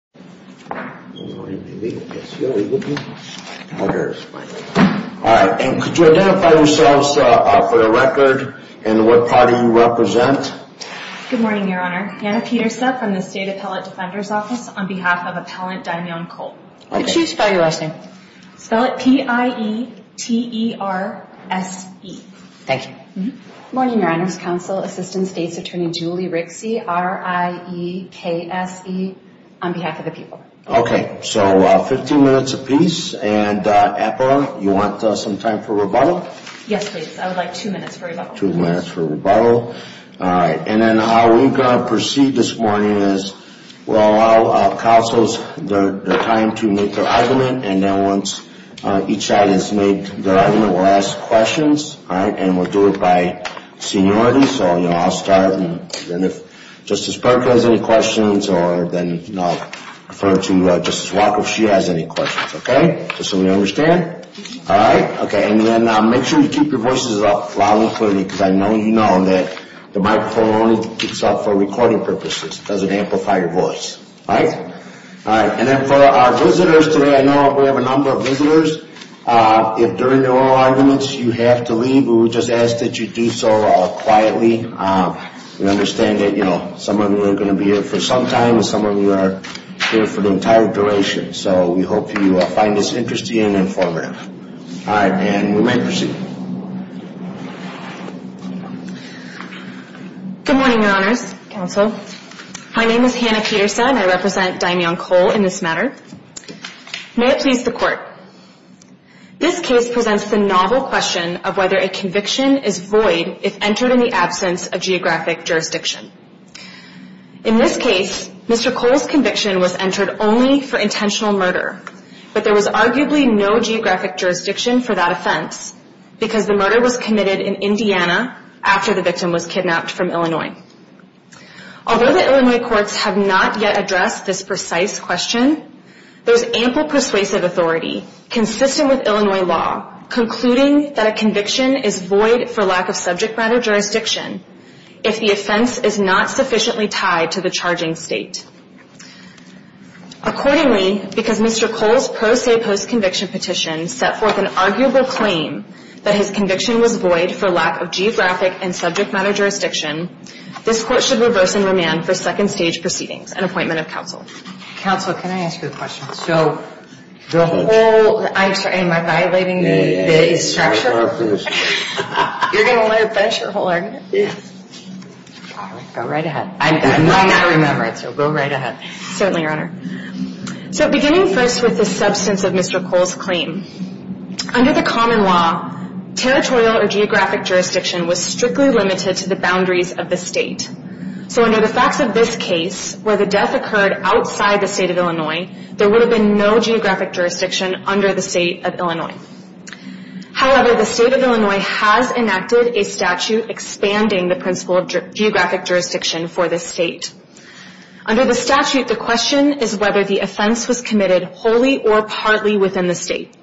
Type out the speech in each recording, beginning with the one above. Good morning, Your Honor. Hannah Petersep from the State Appellate Defender's Office on behalf of Appellant Dimeon Cole. Could you spell your last name? Spell it P-I-E-T-E-R-S-E. Thank you. Good morning, Your Honor. Counsel, Assistant State's Attorney Julie Rixey, R-I-E-K-S-E, on behalf of the people. Okay, so 15 minutes apiece. And APPA, you want some time for rebuttal? Yes, please. I would like two minutes for rebuttal. Two minutes for rebuttal. All right. And then how we're going to proceed this morning is we'll allow counsels their time to make their argument. And then once each side has made their argument, we'll ask questions. All right. And we'll do it by seniority. So, you know, I'll start. And if Justice Parker has any questions or then I'll refer to Justice Walker if she has any questions. Okay. Just so we understand. All right. Okay. And then make sure you keep your voices up loud and clear because I know you know that the microphone only speaks up for recording purposes. It doesn't amplify your voice. All right. And then for our visitors today, I know we have a number of visitors. If during the oral arguments you have to leave, we would just ask that you do so quietly. We understand that, you know, some of you are going to be here for some time and some of you are here for the entire duration. So we hope you find this interesting and informative. All right. And we may proceed. Good morning, Your Honors. Counsel. My name is Hannah Peterson. I represent Dimeon Cole in this matter. May it please the court. This case presents the novel question of whether a conviction is void if entered in the absence of geographic jurisdiction. In this case, Mr. Cole's conviction was entered only for intentional murder, but there was arguably no geographic jurisdiction for that offense. Because the murder was committed in Indiana after the victim was kidnapped from Illinois. Although the Illinois courts have not yet addressed this precise question, there is ample persuasive authority consistent with Illinois law concluding that a conviction is void for lack of subject matter jurisdiction if the offense is not sufficiently tied to the charging state. Accordingly, because Mr. Cole's pro se post conviction petition set forth an arguable claim that his conviction was void for lack of geographic and subject matter jurisdiction, this court should reverse and remand for second stage proceedings and appointment of counsel. Counsel, can I ask you a question? So the whole, I'm sorry, am I violating the structure? You're going to let her finish her whole argument. Go right ahead. I'm not going to remember it, so go right ahead. Certainly, Your Honor. So beginning first with the substance of Mr. Cole's claim. Under the common law, territorial or geographic jurisdiction was strictly limited to the boundaries of the state. So under the facts of this case, where the death occurred outside the state of Illinois, there would have been no geographic jurisdiction under the state of Illinois. However, the state of Illinois has enacted a statute expanding the principle of geographic jurisdiction for the state. Under the statute, the question is whether the offense was committed wholly or partly within the state.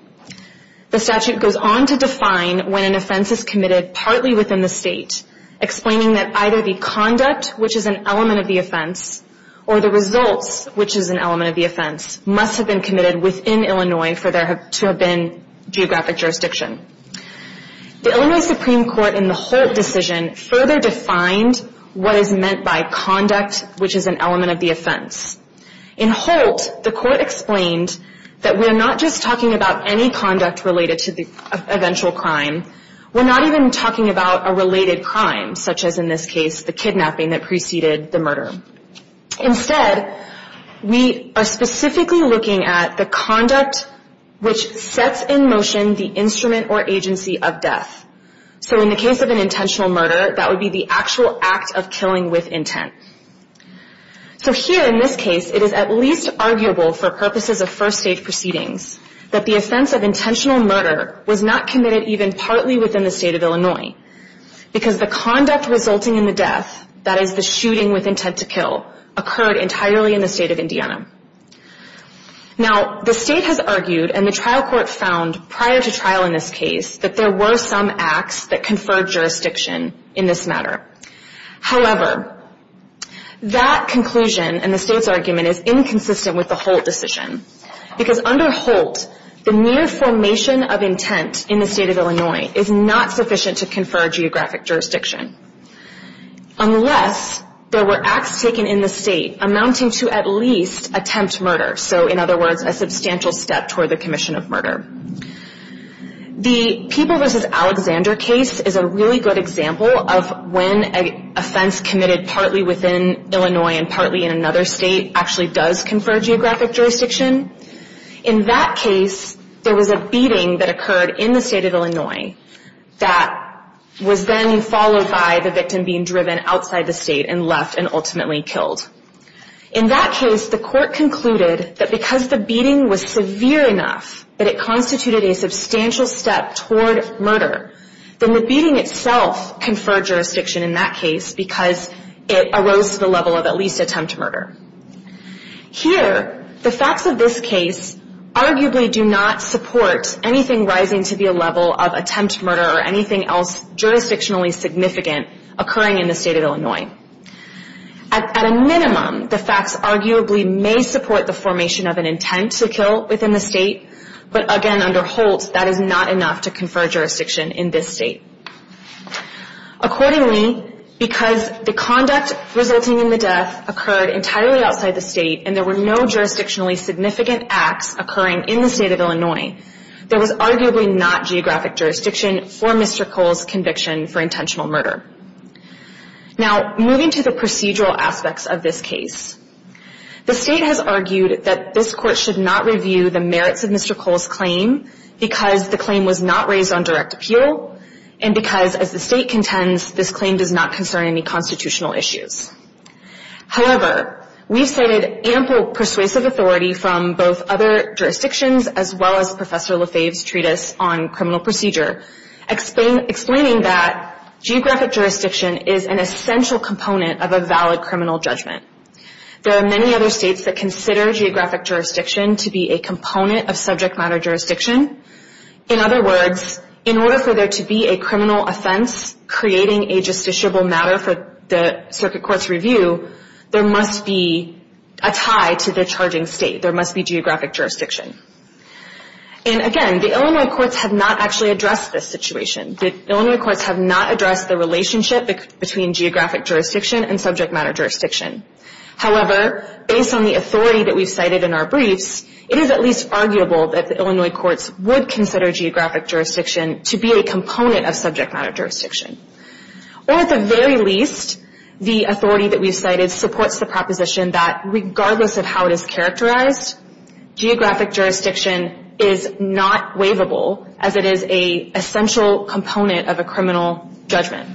The statute goes on to define when an offense is committed partly within the state, explaining that either the conduct, which is an element of the offense, or the results, which is an element of the offense, must have been committed within Illinois for there to have been geographic jurisdiction. The Illinois Supreme Court in the Holt decision further defined what is meant by conduct, which is an element of the offense. In Holt, the court explained that we're not just talking about any conduct related to the eventual crime. We're not even talking about a related crime, such as in this case, the kidnapping that preceded the murder. Instead, we are specifically looking at the conduct which sets in motion the instrument or agency of death. So in the case of an intentional murder, that would be the actual act of killing with intent. So here, in this case, it is at least arguable for purposes of first-stage proceedings that the offense of intentional murder was not committed even partly within the state of Illinois, because the conduct resulting in the death, that is the shooting with intent to kill, occurred entirely in the state of Indiana. Now, the state has argued, and the trial court found prior to trial in this case, that there were some acts that conferred jurisdiction in this matter. However, that conclusion and the state's argument is inconsistent with the Holt decision, because under Holt, the mere formation of intent in the state of Illinois is not sufficient to confer geographic jurisdiction, unless there were acts taken in the state amounting to at least attempt murder. So in other words, a substantial step toward the commission of murder. The People v. Alexander case is a really good example of when an offense committed partly within Illinois and partly in another state actually does confer geographic jurisdiction. In that case, there was a beating that occurred in the state of Illinois that was then followed by the victim being driven outside the state and left and ultimately killed. In that case, the court concluded that because the beating was severe enough that it constituted a substantial step toward murder, then the beating itself conferred jurisdiction in that case because it arose to the level of at least attempt murder. Here, the facts of this case arguably do not support anything rising to the level of attempt murder or anything else jurisdictionally significant occurring in the state of Illinois. At a minimum, the facts arguably may support the formation of an intent to kill within the state, but again under Holt, that is not enough to confer jurisdiction in this state. Accordingly, because the conduct resulting in the death occurred entirely outside the state and there were no jurisdictionally significant acts occurring in the state of Illinois, there was arguably not geographic jurisdiction for Mr. Cole's conviction for intentional murder. Now, moving to the procedural aspects of this case. The state has argued that this court should not review the merits of Mr. Cole's claim because the claim was not raised on direct appeal and because as the state contends, this claim does not concern any constitutional issues. However, we've cited ample persuasive authority from both other jurisdictions as well as Professor Lefebvre's treatise on criminal procedure, explaining that geographic jurisdiction is an essential component of a valid criminal judgment. There are many other states that consider geographic jurisdiction to be a component of subject matter jurisdiction. In other words, in order for there to be a criminal offense creating a justiciable matter for the circuit court's review, there must be a tie to the charging state. There must be geographic jurisdiction. And again, the Illinois courts have not actually addressed this situation. The Illinois courts have not addressed the relationship between geographic jurisdiction and subject matter jurisdiction. However, based on the authority that we've cited in our briefs, it is at least arguable that the Illinois courts would consider geographic jurisdiction to be a component of subject matter jurisdiction. Or at the very least, the authority that we've cited supports the proposition that regardless of how it is characterized, geographic jurisdiction is not waivable as it is an essential component of a criminal judgment.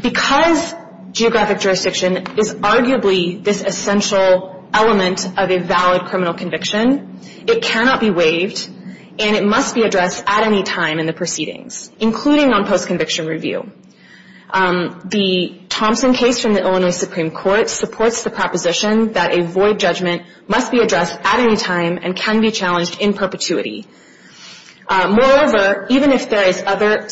Because geographic jurisdiction is arguably this essential element of a valid criminal conviction, it cannot be waived and it must be addressed at any time in the proceedings, including on post-conviction review. The Thompson case from the Illinois Supreme Court supports the proposition that a void judgment must be addressed at any time and can be challenged in perpetuity. Moreover, even if there is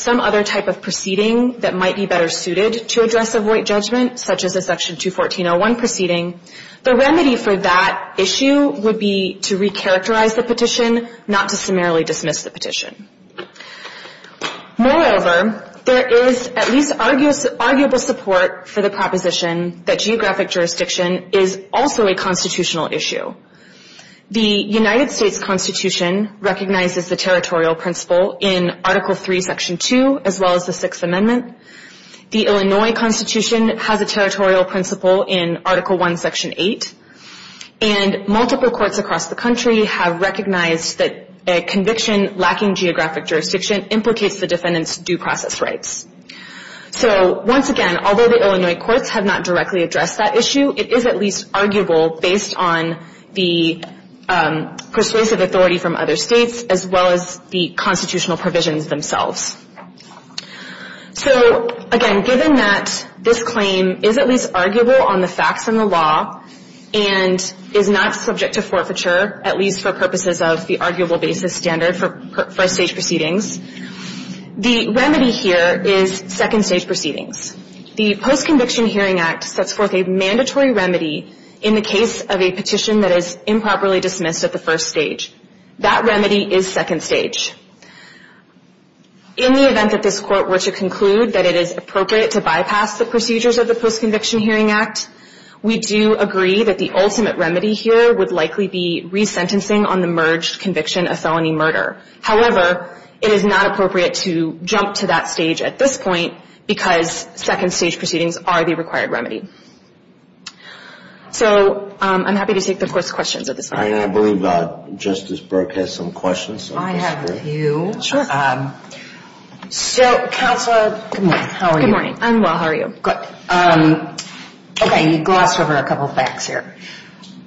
some other type of proceeding that might be better suited to address a void judgment, such as a Section 214.01 proceeding, the remedy for that issue would be to recharacterize the petition, not to summarily dismiss the petition. Moreover, there is at least arguable support for the proposition that geographic jurisdiction is also a constitutional issue. The United States Constitution recognizes the territorial principle in Article III, Section 2, as well as the Sixth Amendment. The Illinois Constitution has a territorial principle in Article I, Section 8. And multiple courts across the country have recognized that a conviction lacking geographic jurisdiction implicates the defendant's due process rights. So once again, although the Illinois courts have not directly addressed that issue, it is at least arguable based on the persuasive authority from other states, as well as the constitutional provisions themselves. So again, given that this claim is at least arguable on the facts and the law and is not subject to forfeiture, at least for purposes of the arguable basis standard for first-stage proceedings, the remedy here is second-stage proceedings. The Post-Conviction Hearing Act sets forth a mandatory remedy in the case of a petition that is improperly dismissed at the first stage. That remedy is second stage. In the event that this Court were to conclude that it is appropriate to bypass the procedures of the Post-Conviction Hearing Act, we do agree that the ultimate remedy here would likely be resentencing on the merged conviction of felony murder. However, it is not appropriate to jump to that stage at this point because second-stage proceedings are the required remedy. So I'm happy to take the Court's questions at this point. I believe Justice Burke has some questions. I have a few. Sure. So, Counselor, good morning. How are you? Good morning. I'm well. How are you? Good. Okay, you glossed over a couple facts here.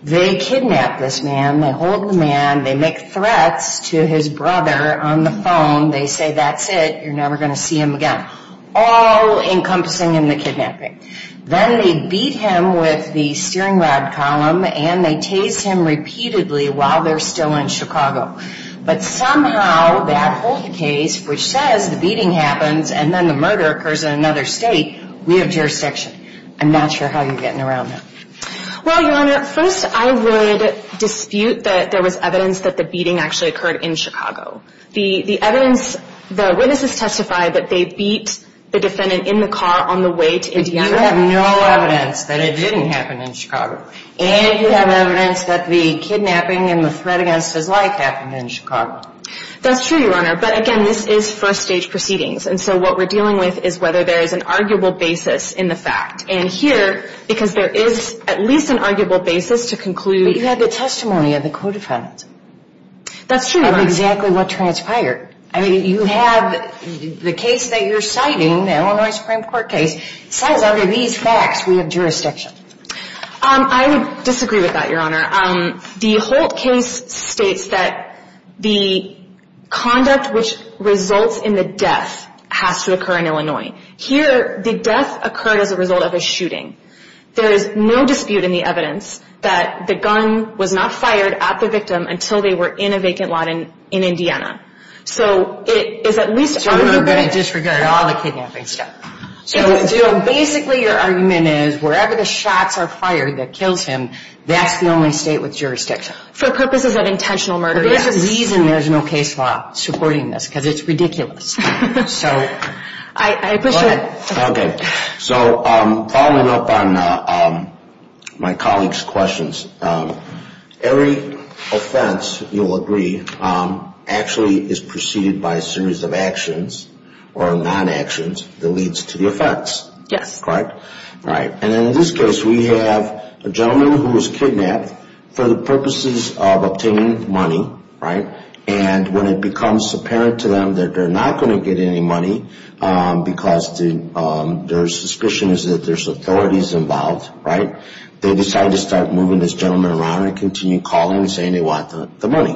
They kidnap this man. They hold the man. They make threats to his brother on the phone. They say, that's it. You're never going to see him again, all encompassing in the kidnapping. Then they beat him with the steering rod column, and they tase him repeatedly while they're still in Chicago. But somehow that whole case, which says the beating happens and then the murder occurs in another state, we have jurisdiction. I'm not sure how you're getting around that. Well, Your Honor, first I would dispute that there was evidence that the beating actually occurred in Chicago. The evidence, the witnesses testified that they beat the defendant in the car on the way to Indiana. But you have no evidence that it didn't happen in Chicago. And you have evidence that the kidnapping and the threat against his life happened in Chicago. That's true, Your Honor. But, again, this is first-stage proceedings. And so what we're dealing with is whether there is an arguable basis in the fact. And here, because there is at least an arguable basis to conclude. But you had the testimony of the co-defendant. That's true, Your Honor. Of exactly what transpired. I mean, you have the case that you're citing, the Illinois Supreme Court case, cites under these facts we have jurisdiction. I would disagree with that, Your Honor. The Holt case states that the conduct which results in the death has to occur in Illinois. Here, the death occurred as a result of a shooting. There is no dispute in the evidence that the gun was not fired at the victim until they were in a vacant lot in Indiana. So it is at least arguable. So we're going to disregard all the kidnapping stuff. So, basically, your argument is wherever the shots are fired that kills him, that's the only state with jurisdiction. For purposes of intentional murder, yes. There's a reason there's no case law supporting this, because it's ridiculous. I appreciate it. Okay. So following up on my colleague's questions, every offense, you'll agree, actually is preceded by a series of actions or non-actions that leads to the offense. Yes. Correct? Right. And in this case, we have a gentleman who was kidnapped for the purposes of obtaining money, right? And when it becomes apparent to them that they're not going to get any money because their suspicion is that there's authorities involved, right, they decide to start moving this gentleman around and continue calling and saying they want the money,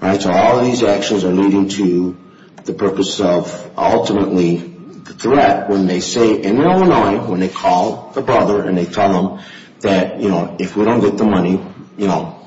right? So all of these actions are leading to the purpose of ultimately the threat when they say in Illinois, when they call the brother and they tell him that, you know, if we don't get the money, you know,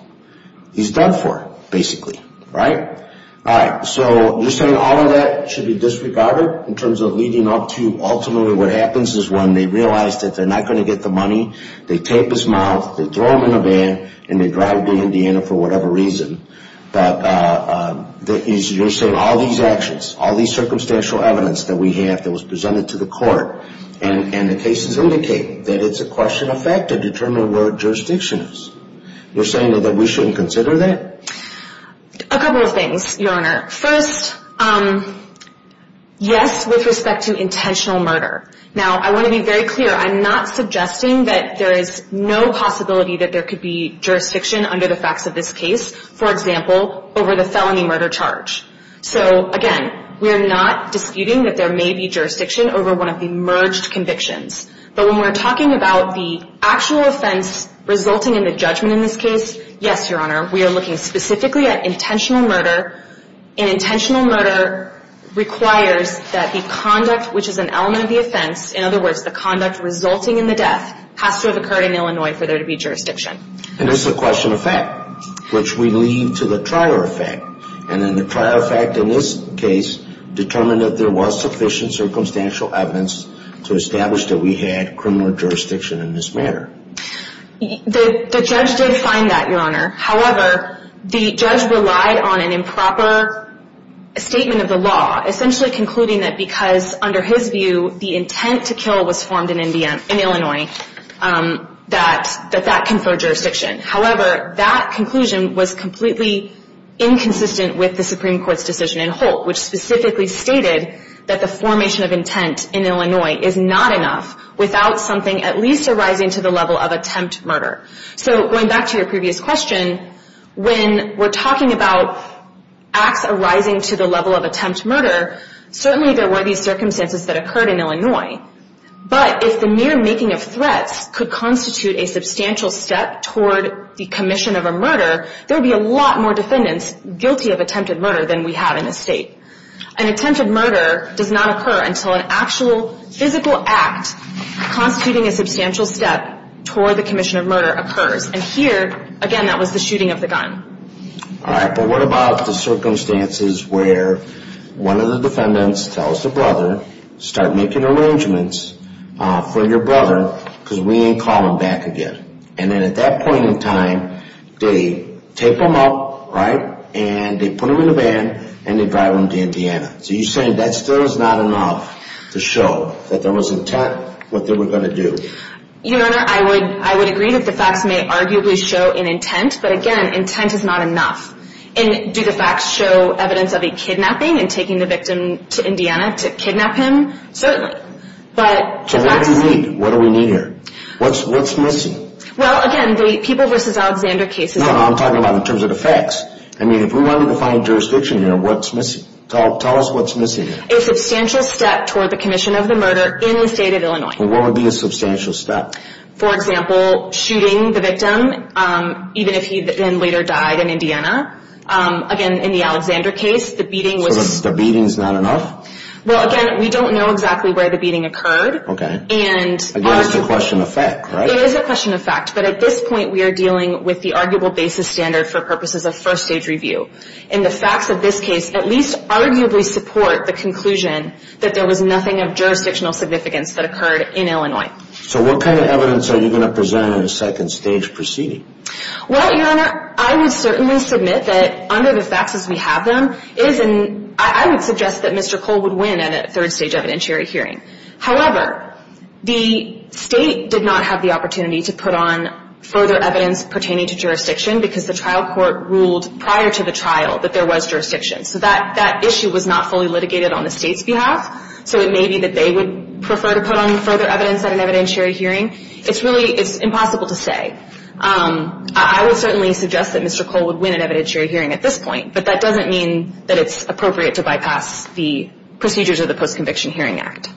he's done for, basically, right? All right. So you're saying all of that should be disregarded in terms of leading up to ultimately what happens is when they realize that they're not going to get the money, they tape his mouth, they throw him in a van, and they drive to Indiana for whatever reason. But you're saying all these actions, all these circumstantial evidence that we have that was presented to the court and the cases indicate that it's a question of fact to determine where jurisdiction is. You're saying that we shouldn't consider that? A couple of things, Your Honor. First, yes, with respect to intentional murder. Now, I want to be very clear. I'm not suggesting that there is no possibility that there could be jurisdiction under the facts of this case, for example, over the felony murder charge. So, again, we're not disputing that there may be jurisdiction over one of the merged convictions. But when we're talking about the actual offense resulting in the judgment in this case, yes, Your Honor, we are looking specifically at intentional murder. And intentional murder requires that the conduct, which is an element of the offense, in other words, the conduct resulting in the death, has to have occurred in Illinois for there to be jurisdiction. And it's a question of fact, which we leave to the prior effect. And then the prior effect in this case determined that there was sufficient circumstantial evidence to establish that we had criminal jurisdiction in this matter. The judge did find that, Your Honor. However, the judge relied on an improper statement of the law, essentially concluding that because, under his view, the intent to kill was formed in Illinois, that that conferred jurisdiction. However, that conclusion was completely inconsistent with the Supreme Court's decision in Holt, which specifically stated that the formation of intent in Illinois is not enough without something at least arising to the level of attempt murder. So, going back to your previous question, when we're talking about acts arising to the level of attempt murder, but if the mere making of threats could constitute a substantial step toward the commission of a murder, there would be a lot more defendants guilty of attempted murder than we have in this state. An attempted murder does not occur until an actual physical act constituting a substantial step toward the commission of murder occurs. And here, again, that was the shooting of the gun. All right, but what about the circumstances where one of the defendants tells the brother, start making arrangements for your brother because we ain't calling back again. And then at that point in time, they tape him up, right, and they put him in a van and they drive him to Indiana. So you're saying that still is not enough to show that there was intent what they were going to do. Your Honor, I would agree that the facts may arguably show an intent, but again, intent is not enough. And do the facts show evidence of a kidnapping and taking the victim to Indiana to kidnap him? Certainly. So what do we need here? What's missing? Well, again, the people versus Alexander cases. No, no, I'm talking about in terms of the facts. I mean, if we wanted to find jurisdiction here, what's missing? Tell us what's missing here. A substantial step toward the commission of the murder in the state of Illinois. And what would be a substantial step? For example, shooting the victim, even if he then later died in Indiana. Again, in the Alexander case, the beating was... So the beating's not enough? Well, again, we don't know exactly where the beating occurred. Okay. And... Again, it's a question of fact, right? It is a question of fact. But at this point, we are dealing with the arguable basis standard for purposes of first-stage review. And the facts of this case at least arguably support the conclusion that there was nothing of jurisdictional significance that occurred in Illinois. So what kind of evidence are you going to present in a second-stage proceeding? Well, Your Honor, I would certainly submit that under the facts as we have them, I would suggest that Mr. Cole would win in a third-stage evidentiary hearing. However, the state did not have the opportunity to put on further evidence pertaining to jurisdiction because the trial court ruled prior to the trial that there was jurisdiction. So that issue was not fully litigated on the state's behalf. So it may be that they would prefer to put on further evidence at an evidentiary hearing. It's really... It's impossible to say. I would certainly suggest that Mr. Cole would win an evidentiary hearing at this point. But that doesn't mean that it's appropriate to bypass the procedures of the Post-Conviction Hearing Act.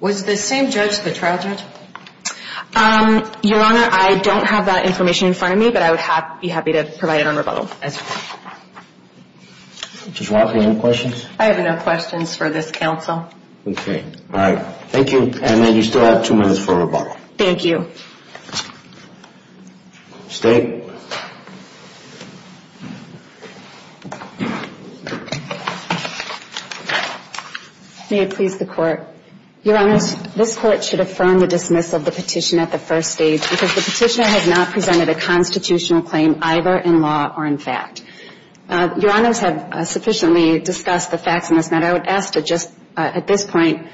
Was the same judge the trial judge? Your Honor, I don't have that information in front of me. But I would be happy to provide it on rebuttal as well. Judge Walker, any questions? I have no questions for this counsel. Okay. All right. Thank you. And then you still have two minutes for rebuttal. Thank you. State. May it please the Court. Your Honors, this Court should affirm the dismissal of the petition at the first stage because the petitioner has not presented a constitutional claim either in law or in fact. Your Honors have sufficiently discussed the facts in this matter. I would ask to just at this point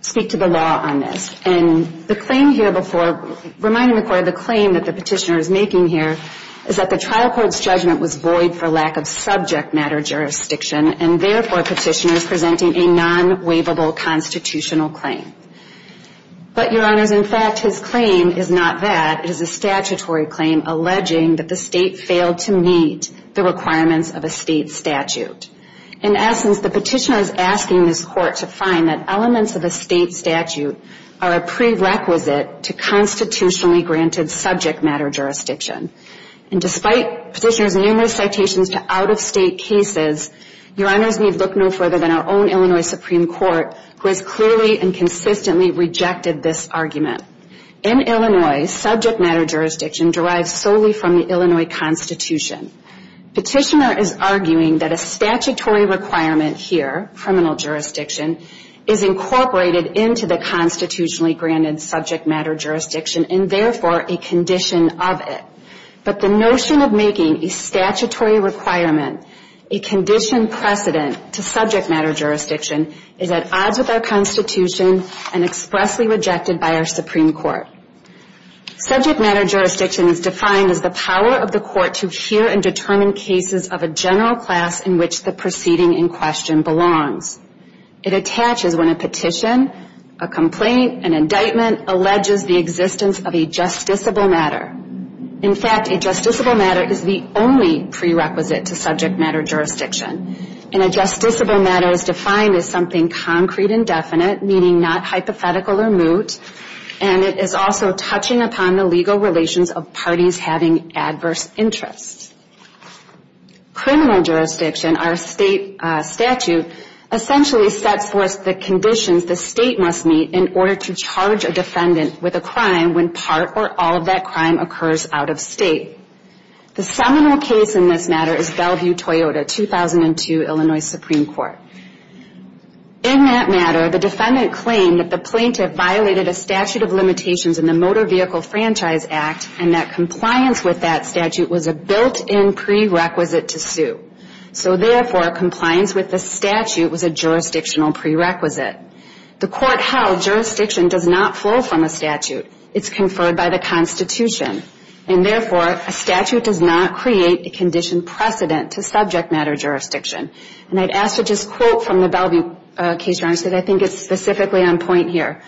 speak to the law on this. And the claim here before, reminding the Court of the claim that the petitioner is making here, is that the trial court's judgment was void for lack of subject matter jurisdiction and therefore petitioner is presenting a non-waivable constitutional claim. But, Your Honors, in fact, his claim is not that. It is a statutory claim alleging that the state failed to meet the requirements of a state statute. In essence, the petitioner is asking this Court to find that elements of a state statute are a prerequisite to constitutionally granted subject matter jurisdiction. And despite petitioner's numerous citations to out-of-state cases, Your Honors need look no further than our own Illinois Supreme Court, who has clearly and consistently rejected this argument. In Illinois, subject matter jurisdiction derives solely from the Illinois Constitution. Petitioner is arguing that a statutory requirement here, criminal jurisdiction, is incorporated into the constitutionally granted subject matter jurisdiction and therefore a condition of it. But the notion of making a statutory requirement a condition precedent to subject matter jurisdiction is at odds with our constitution and expressly rejected by our Supreme Court. Subject matter jurisdiction is defined as the power of the Court to hear and determine cases of a general class in which the proceeding in question belongs. It attaches when a petition, a complaint, an indictment, alleges the existence of a justiciable matter. In fact, a justiciable matter is the only prerequisite to subject matter jurisdiction. And a justiciable matter is defined as something concrete and definite, meaning not hypothetical or moot, and it is also touching upon the legal relations of parties having adverse interests. Criminal jurisdiction, our state statute, essentially sets forth the conditions the state must meet in order to charge a defendant with a crime when part or all of that crime occurs out-of-state. The seminal case in this matter is Bellevue-Toyota, 2002, Illinois Supreme Court. In that matter, the defendant claimed that the plaintiff violated a statute of limitations in the Motor Vehicle Franchise Act and that compliance with that statute was a built-in prerequisite to sue. So therefore, compliance with the statute was a jurisdictional prerequisite. The court held jurisdiction does not flow from a statute. It's conferred by the constitution. And therefore, a statute does not create a condition precedent to subject matter jurisdiction. And I'd ask for just a quote from the Bellevue case, Your Honor, because I think it's specifically on point here.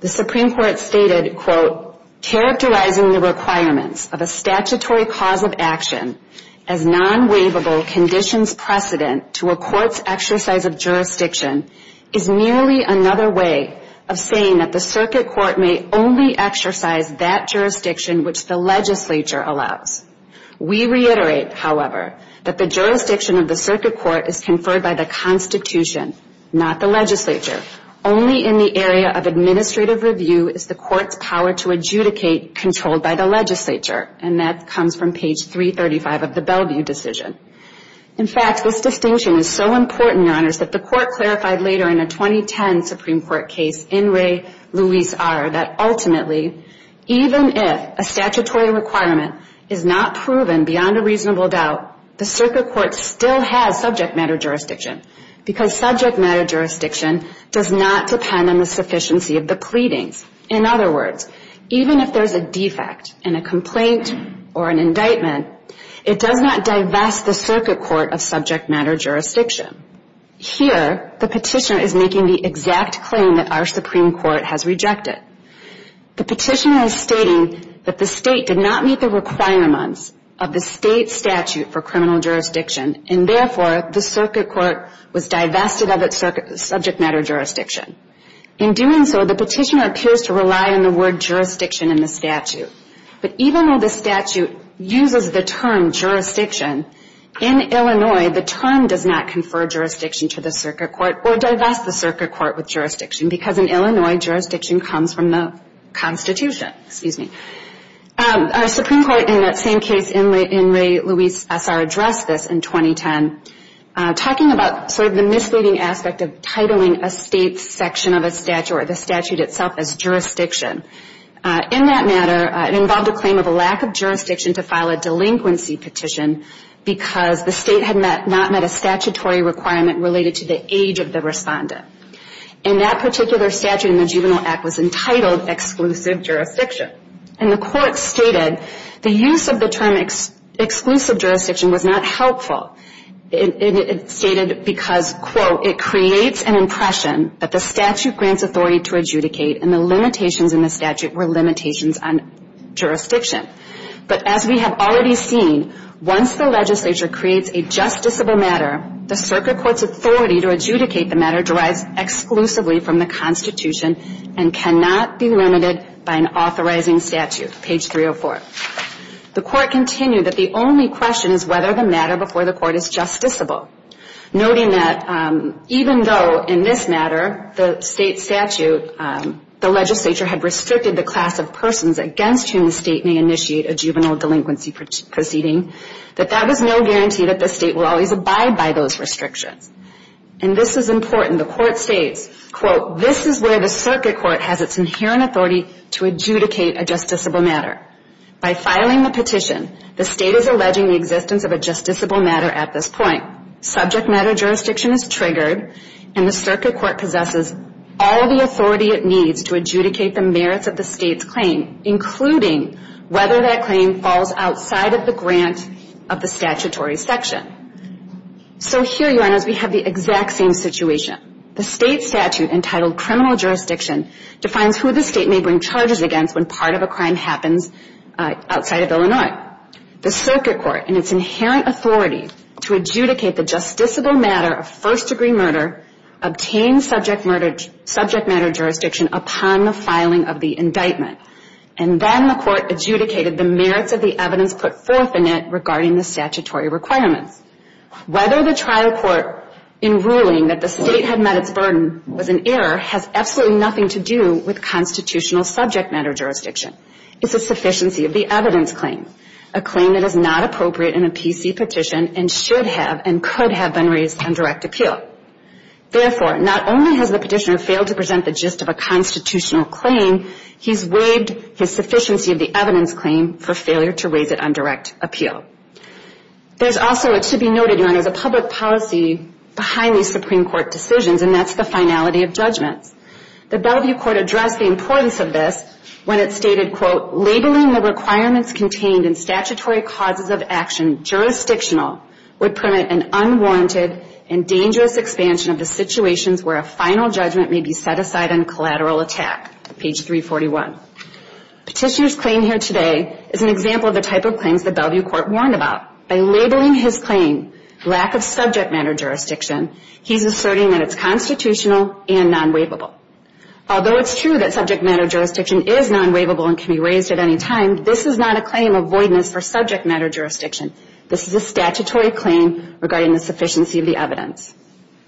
The Supreme Court stated, quote, Characterizing the requirements of a statutory cause of action as non-waivable conditions precedent to a court's exercise of jurisdiction is merely another way of saying that the circuit court may only exercise that jurisdiction which the legislature allows. We reiterate, however, that the jurisdiction of the circuit court is conferred by the constitution, not the legislature. Only in the area of administrative review is the court's power to adjudicate controlled by the legislature. And that comes from page 335 of the Bellevue decision. In fact, this distinction is so important, Your Honors, that the court clarified later in a 2010 Supreme Court case in Ray-Louise R. that ultimately, even if a statutory requirement is not proven beyond a reasonable doubt, the circuit court still has subject matter jurisdiction because subject matter jurisdiction does not depend on the sufficiency of the pleadings. In other words, even if there's a defect in a complaint or an indictment, it does not divest the circuit court of subject matter jurisdiction. Here, the petitioner is making the exact claim that our Supreme Court has rejected. The petitioner is stating that the state did not meet the requirements of the state statute for criminal jurisdiction, and therefore the circuit court was divested of its subject matter jurisdiction. In doing so, the petitioner appears to rely on the word jurisdiction in the statute. But even though the statute uses the term jurisdiction, in Illinois, the term does not confer jurisdiction to the circuit court or divest the circuit court with jurisdiction because in Illinois, jurisdiction comes from the Constitution. Our Supreme Court in that same case in Ray-Louise S.R. addressed this in 2010, talking about sort of the misleading aspect of titling a state section of a statute or the statute itself as jurisdiction. In that matter, it involved a claim of a lack of jurisdiction to file a delinquency petition because the state had not met a statutory requirement related to the age of the respondent. And that particular statute in the Juvenile Act was entitled exclusive jurisdiction. And the court stated the use of the term exclusive jurisdiction was not helpful. It stated because, quote, it creates an impression that the statute grants authority to adjudicate and the limitations in the statute were limitations on jurisdiction. But as we have already seen, once the legislature creates a justiciable matter, the circuit court's authority to adjudicate the matter derives exclusively from the Constitution and cannot be limited by an authorizing statute, page 304. The court continued that the only question is whether the matter before the court is justiciable, noting that even though in this matter, the state statute, the legislature had restricted the class of persons against whom the state may initiate a juvenile delinquency proceeding, that that was no guarantee that the state will always abide by those restrictions. And this is important. The court states, quote, this is where the circuit court has its inherent authority to adjudicate a justiciable matter. By filing the petition, the state is alleging the existence of a justiciable matter at this point. Subject matter jurisdiction is triggered and the circuit court possesses all the authority it needs to adjudicate the merits of the state's claim, including whether that claim falls outside of the grant of the statutory section. So here, Your Honors, we have the exact same situation. The state statute entitled criminal jurisdiction defines who the state may bring charges against when part of a crime happens outside of Illinois. The circuit court, in its inherent authority to adjudicate the justiciable matter of first-degree murder, obtained subject matter jurisdiction upon the filing of the indictment. And then the court adjudicated the merits of the evidence put forth in it regarding the statutory requirements. Whether the trial court, in ruling that the state had met its burden, was in error, has absolutely nothing to do with constitutional subject matter jurisdiction. It's a sufficiency of the evidence claim, a claim that is not appropriate in a PC petition and should have and could have been raised on direct appeal. Therefore, not only has the petitioner failed to present the gist of a constitutional claim, he's waived his sufficiency of the evidence claim for failure to raise it on direct appeal. There's also, it should be noted, Your Honors, a public policy behind these Supreme Court decisions, and that's the finality of judgments. The Bellevue Court addressed the importance of this when it stated, quote, labeling the requirements contained in statutory causes of action jurisdictional would permit an unwarranted and dangerous expansion of the situations where a final judgment may be set aside on collateral attack, page 341. Petitioner's claim here today is an example of the type of claims the Bellevue Court warned about. By labeling his claim lack of subject matter jurisdiction, he's asserting that it's constitutional and non-waivable. Although it's true that subject matter jurisdiction is non-waivable and can be raised at any time, this is not a claim of voidness for subject matter jurisdiction. This is a statutory claim regarding the sufficiency of the evidence.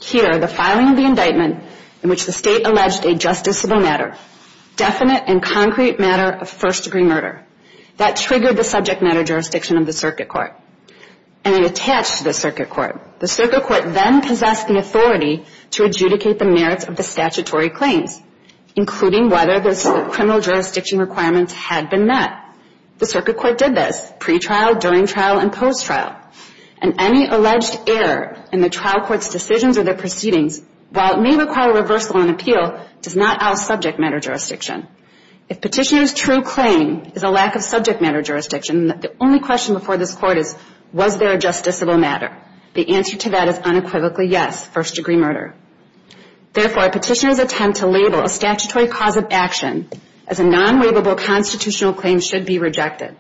Here, the filing of the indictment in which the State alleged a justiciable matter, definite and concrete matter of first-degree murder, that triggered the subject matter jurisdiction of the Circuit Court, and it attached to the Circuit Court. The Circuit Court then possessed the authority to adjudicate the merits of the statutory claims, including whether the criminal jurisdiction requirements had been met. The Circuit Court did this pre-trial, during trial, and post-trial. And any alleged error in the trial court's decisions or their proceedings, while it may require reversal on appeal, does not out subject matter jurisdiction. If petitioner's true claim is a lack of subject matter jurisdiction, the only question before this Court is, was there a justiciable matter? The answer to that is unequivocally yes, first-degree murder. Therefore, a petitioner's attempt to label a statutory cause of action as a non-waivable constitutional claim should be rejected.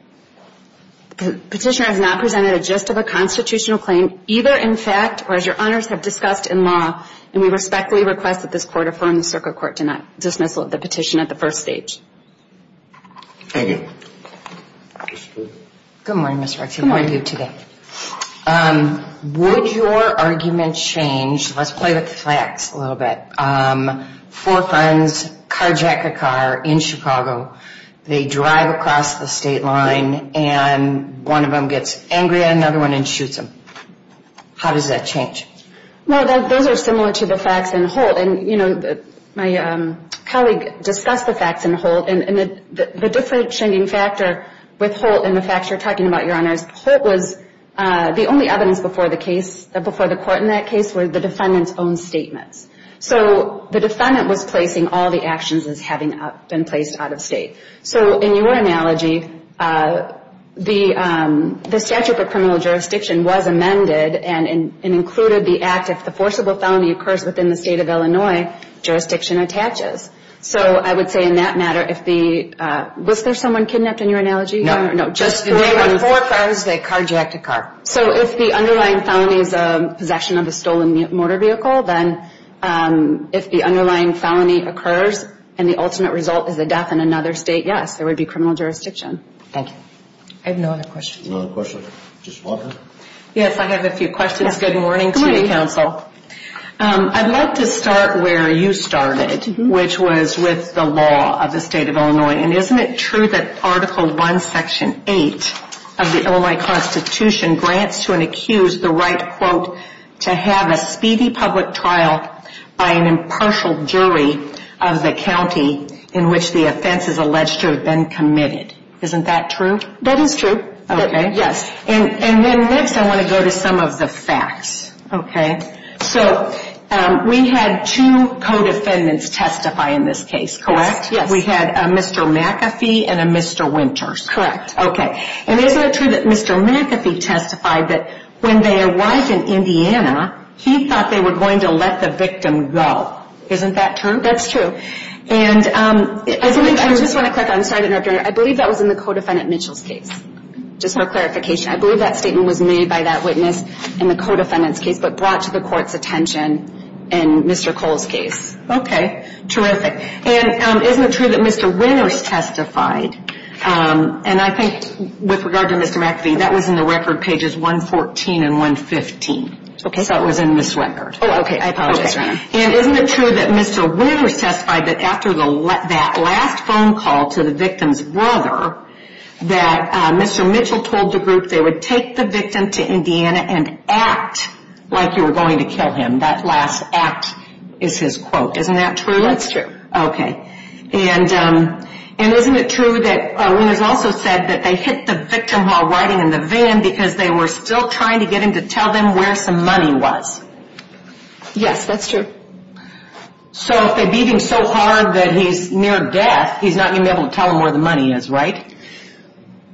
Petitioner has not presented a just of a constitutional claim, either in fact or as your honors have discussed in law, and we respectfully request that this Court affirm the Circuit Court to not dismiss the petition at the first stage. Thank you. Good morning, Ms. Ruxin. Good morning. How are you today? Would your argument change, let's play with facts a little bit, four friends carjack a car in Chicago, they drive across the state line, and one of them gets angry at another one and shoots him. How does that change? Well, those are similar to the facts in Holt. And, you know, my colleague discussed the facts in Holt, and the differentiating factor with Holt and the facts you're talking about, your honors, Holt was the only evidence before the court in that case were the defendant's own statements. So the defendant was placing all the actions as having been placed out of state. So in your analogy, the statute of criminal jurisdiction was amended and included the act if the forcible felony occurs within the state of Illinois, jurisdiction attaches. So I would say in that matter, was there someone kidnapped in your analogy? No. Just three or four friends, they carjacked a car. So if the underlying felony is possession of a stolen motor vehicle, then if the underlying felony occurs and the ultimate result is a death in another state, yes, there would be criminal jurisdiction. Thank you. I have no other questions. No other questions. Ms. Walker. Yes, I have a few questions. Good morning to you, counsel. I'd like to start where you started, which was with the law of the state of Illinois. And isn't it true that Article I, Section 8 of the Illinois Constitution grants to an accused the right, quote, to have a speedy public trial by an impartial jury of the county in which the offense is alleged to have been committed? Isn't that true? That is true. Okay. Yes. And then next I want to go to some of the facts. Okay. So we had two co-defendants testify in this case, correct? Yes. We had a Mr. McAfee and a Mr. Winters. Correct. Okay. And isn't it true that Mr. McAfee testified that when they arrived in Indiana, he thought they were going to let the victim go? Isn't that true? That's true. And isn't it true? I just want to clarify. I'm sorry to interrupt. I believe that was in the co-defendant Mitchell's case, just for clarification. I believe that statement was made by that witness in the co-defendant's case but brought to the court's attention in Mr. Cole's case. Okay. Terrific. And isn't it true that Mr. Winters testified, and I think with regard to Mr. McAfee, that was in the record pages 114 and 115. Okay. So it was in this record. Oh, okay. I apologize, Your Honor. And isn't it true that Mr. Winters testified that after that last phone call to the victim's brother, that Mr. Mitchell told the group they would take the victim to Indiana and act like you were going to kill him? That last act is his quote. Isn't that true? That's true. Okay. And isn't it true that Winters also said that they hit the victim while riding in the van because they were still trying to get him to tell them where some money was? Yes, that's true. So if they beat him so hard that he's near death, he's not going to be able to tell them where the money is, right?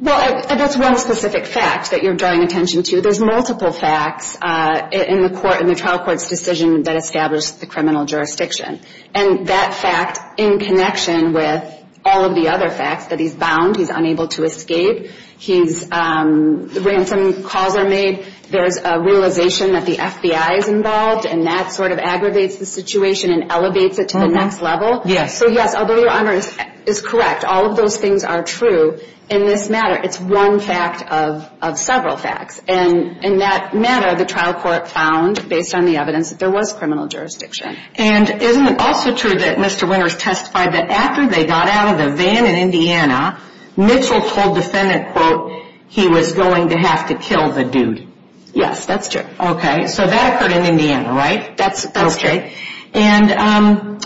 Well, that's one specific fact that you're drawing attention to. There's multiple facts in the trial court's decision that established the criminal jurisdiction. And that fact, in connection with all of the other facts, that he's bound, he's unable to escape, the ransom calls are made, there's a realization that the FBI is involved, and that sort of aggravates the situation and elevates it to the next level. Yes. So yes, although your honor is correct, all of those things are true in this matter. It's one fact of several facts. And in that matter, the trial court found, based on the evidence, that there was criminal jurisdiction. And isn't it also true that Mr. Winters testified that after they got out of the van in Indiana, Mitchell told defendant, quote, he was going to have to kill the dude? Yes, that's true. Okay. So that occurred in Indiana, right? That's true. Okay. And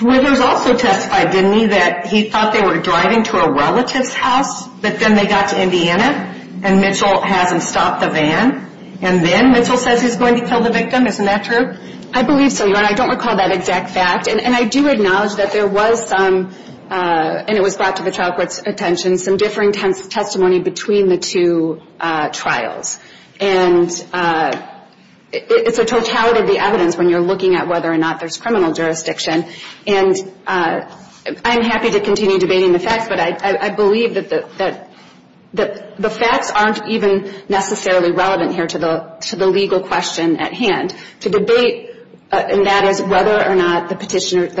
Winters also testified, didn't he, that he thought they were driving to a relative's house, but then they got to Indiana, and Mitchell has them stop the van, and then Mitchell says he's going to kill the victim? Isn't that true? I believe so, your honor. I don't recall that exact fact. And I do acknowledge that there was some, and it was brought to the trial court's attention, some differing testimony between the two trials. And it's a totality of the evidence when you're looking at whether or not there's criminal jurisdiction. And I'm happy to continue debating the facts, but I believe that the facts aren't even necessarily relevant here to the legal question at hand. To debate, and that is whether or not the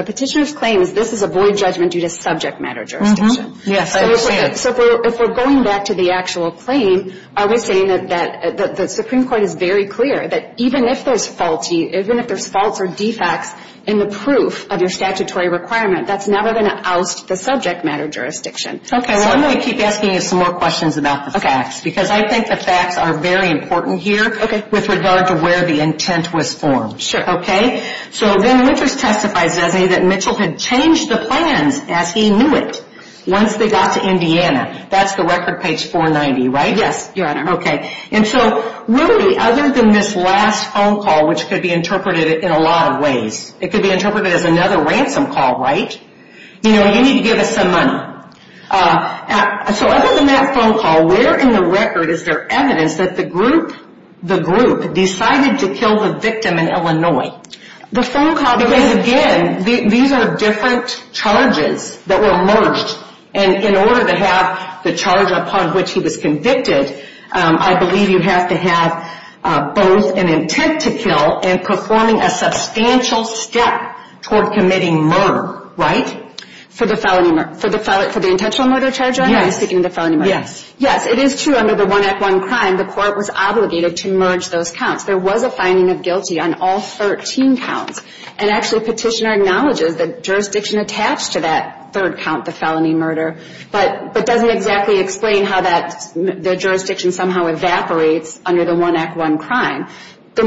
petitioner's claim is this is a void judgment due to subject matter jurisdiction. Yes, I understand. So if we're going back to the actual claim, are we saying that the Supreme Court is very clear that even if there's faulty, even if there's faults or defects in the proof of your statutory requirement, that's never going to oust the subject matter jurisdiction? Okay. So I'm going to keep asking you some more questions about the facts, because I think the facts are very important here with regard to where the intent was formed. Sure. Okay? So then Winters testifies, doesn't he, that Mitchell had changed the plans as he knew it once they got to Indiana. That's the record page 490, right? Yes, Your Honor. Okay. And so really, other than this last phone call, which could be interpreted in a lot of ways, it could be interpreted as another ransom call, right? You know, you need to give us some money. So other than that phone call, where in the record is there evidence that the group decided to kill the victim in Illinois? The phone call, because again, these are different charges that were merged, and in order to have the charge upon which he was convicted, I believe you have to have both an intent to kill and performing a substantial step toward committing murder, right? For the felony murder. For the intentional murder charge, are you speaking of the felony murder? Yes. Yes, it is true under the 1 Act 1 crime, the court was obligated to merge those counts. There was a finding of guilty on all 13 counts, and actually Petitioner acknowledges that jurisdiction attached to that third count, the felony murder, but doesn't exactly explain how that jurisdiction somehow evaporates under the 1 Act 1 crime. The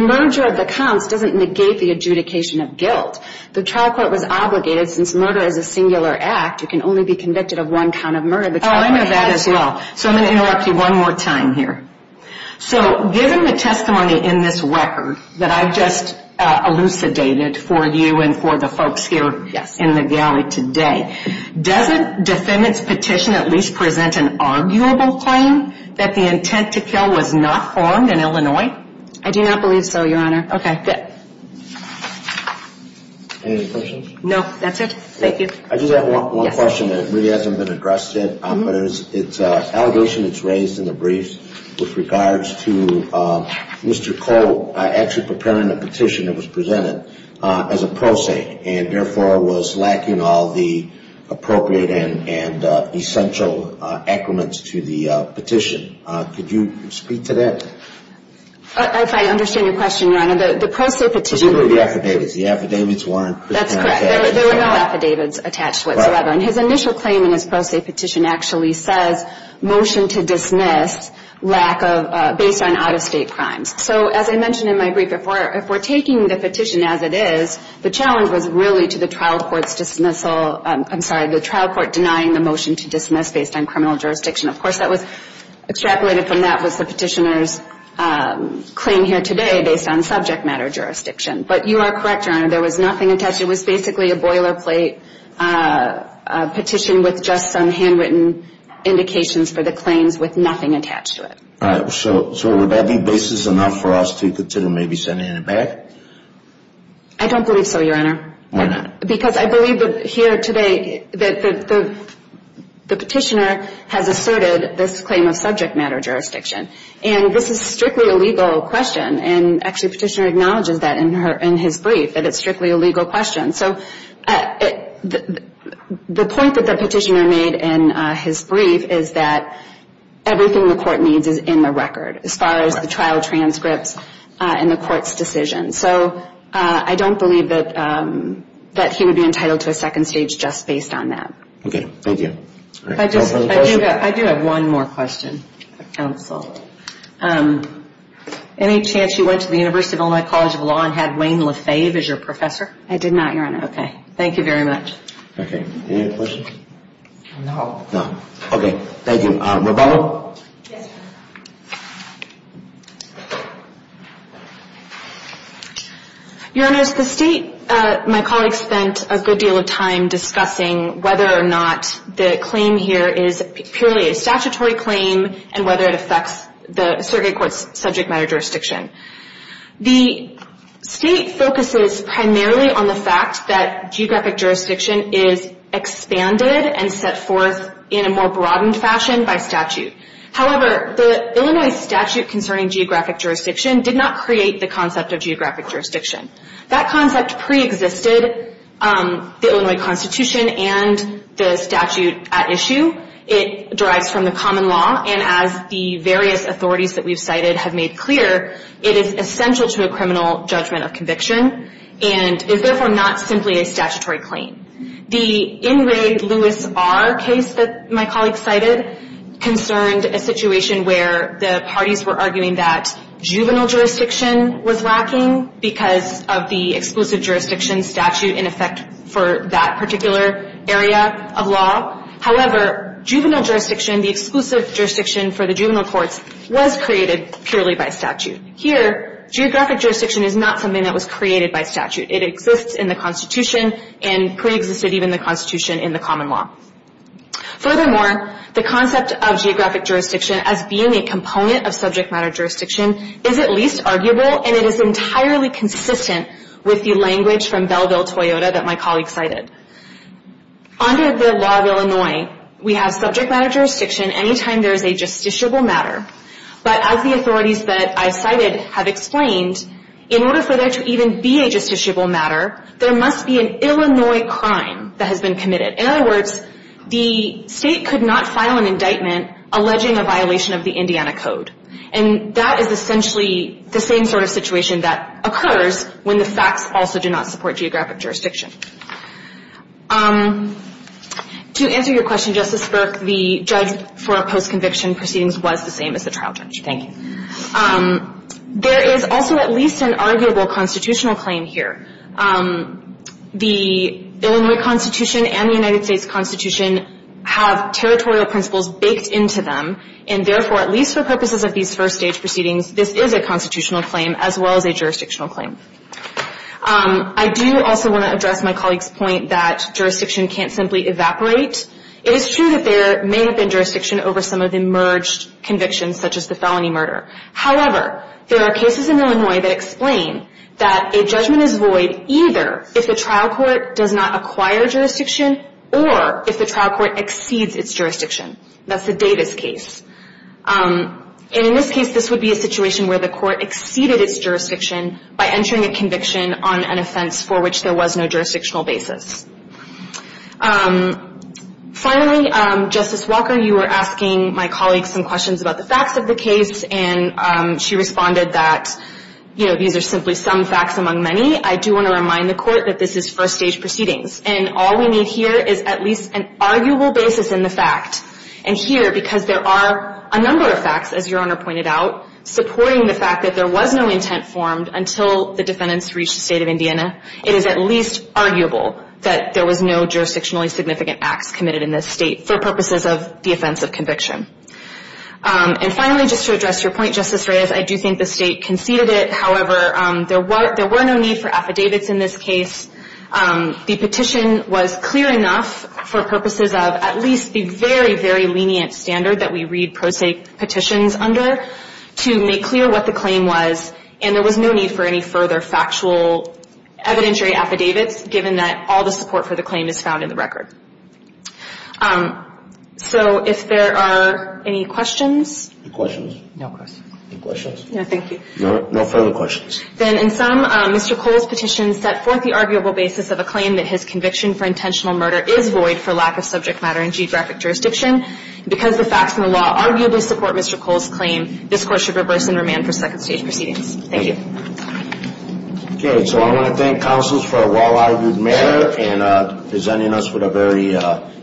trial court was obligated, since murder is a singular act, you can only be convicted of one kind of murder. Oh, I know that as well. So I'm going to interrupt you one more time here. So given the testimony in this record that I've just elucidated for you and for the folks here in the galley today, doesn't defendant's petition at least present an arguable claim that the intent to kill was not formed in Illinois? I do not believe so, Your Honor. Okay, good. Any other questions? No, that's it. Thank you. I just have one question that really hasn't been addressed yet, but it's an allegation that's raised in the briefs with regards to Mr. Cole actually preparing a petition that was presented as a pro se, and therefore was lacking all the appropriate and essential acronyms to the petition. Could you speak to that? If I understand your question, Your Honor, the pro se petition The affidavits, the affidavits weren't That's correct. There were no affidavits attached whatsoever. And his initial claim in his pro se petition actually says motion to dismiss based on out-of-state crimes. So as I mentioned in my brief, if we're taking the petition as it is, the challenge was really to the trial court's dismissal, I'm sorry, the trial court denying the motion to dismiss based on criminal jurisdiction. Of course that was extrapolated from that was the petitioner's claim here today based on subject matter jurisdiction. But you are correct, Your Honor, there was nothing attached. It was basically a boilerplate petition with just some handwritten indications for the claims with nothing attached to it. All right. So would that be basis enough for us to continue maybe sending it back? Why not? Because I believe that here today the petitioner has asserted this claim of subject matter jurisdiction. And this is strictly a legal question. And actually the petitioner acknowledges that in his brief, that it's strictly a legal question. So the point that the petitioner made in his brief is that everything the court needs is in the record as far as the trial transcripts and the court's decision. So I don't believe that he would be entitled to a second stage just based on that. Okay. Thank you. I do have one more question, counsel. Any chance you went to the University of Illinois College of Law and had Wayne LaFave as your professor? I did not, Your Honor. Okay. Thank you very much. Okay. Any other questions? No. No. Okay. Thank you. Rebecca? Yes, Your Honor. Your Honor, the state, my colleagues spent a good deal of time discussing whether or not the claim here is purely a statutory claim and whether it affects the surrogate court's subject matter jurisdiction. The state focuses primarily on the fact that geographic jurisdiction is expanded and set forth in a more broadened fashion by statute. However, the Illinois statute concerning geographic jurisdiction did not create the concept of geographic jurisdiction. That concept preexisted the Illinois Constitution and the statute at issue. It derives from the common law, and as the various authorities that we've cited have made clear, it is essential to a criminal judgment of conviction and is therefore not simply a statutory claim. The In Re Lewis R case that my colleagues cited concerned a situation where the parties were arguing that juvenile jurisdiction was lacking because of the exclusive jurisdiction statute in effect for that particular area of law. However, juvenile jurisdiction, the exclusive jurisdiction for the juvenile courts, was created purely by statute. Here, geographic jurisdiction is not something that was created by statute. It exists in the Constitution and preexisted even the Constitution in the common law. Furthermore, the concept of geographic jurisdiction as being a component of subject matter jurisdiction is at least arguable and it is entirely consistent with the language from Bellville-Toyota that my colleagues cited. Under the law of Illinois, we have subject matter jurisdiction any time there is a justiciable matter. But as the authorities that I cited have explained, in order for there to even be a justiciable matter, there must be an Illinois crime that has been committed. In other words, the state could not file an indictment alleging a violation of the Indiana Code. And that is essentially the same sort of situation that occurs when the facts also do not support geographic jurisdiction. To answer your question, Justice Burke, the judge for a post-conviction proceedings was the same as the trial judge. Thank you. There is also at least an arguable constitutional claim here. The Illinois Constitution and the United States Constitution have territorial principles baked into them and therefore, at least for purposes of these first stage proceedings, this is a constitutional claim as well as a jurisdictional claim. I do also want to address my colleague's point that jurisdiction can't simply evaporate. It is true that there may have been jurisdiction over some of the merged convictions such as the felony murder. However, there are cases in Illinois that explain that a judgment is void either if the trial court does not acquire jurisdiction or if the trial court exceeds its jurisdiction. That's the Davis case. In this case, this would be a situation where the court exceeded its jurisdiction by entering a conviction on an offense for which there was no jurisdictional basis. Finally, Justice Walker, you were asking my colleague some questions about the facts of the case and she responded that, you know, these are simply some facts among many. I do want to remind the court that this is first stage proceedings. And all we need here is at least an arguable basis in the fact. And here, because there are a number of facts, as Your Honor pointed out, supporting the fact that there was no intent formed until the defendants reached the state of Indiana, it is at least arguable that there was no jurisdictionally significant acts committed in this state for purposes of the offense of conviction. And finally, just to address your point, Justice Reyes, I do think the state conceded it. However, there were no need for affidavits in this case. The petition was clear enough for purposes of at least the very, very lenient standard that we read pro se petitions under to make clear what the claim was. And there was no need for any further factual evidentiary affidavits, given that all the support for the claim is found in the record. So if there are any questions. Any questions? No questions. Any questions? No, thank you. No further questions. Then in sum, Mr. Cole's petition set forth the arguable basis of a claim that his conviction for intentional murder is void for lack of subject matter in geographic jurisdiction. Because the facts in the law arguably support Mr. Cole's claim, this Court should reverse and remand for second stage proceedings. Thank you. Okay. So I want to thank counsels for a well-argued matter and presenting us with a very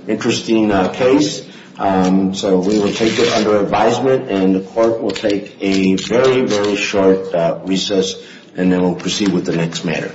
interesting case. So we will take it under advisement, and the Court will take a very, very short recess, and then we'll proceed with the next matter.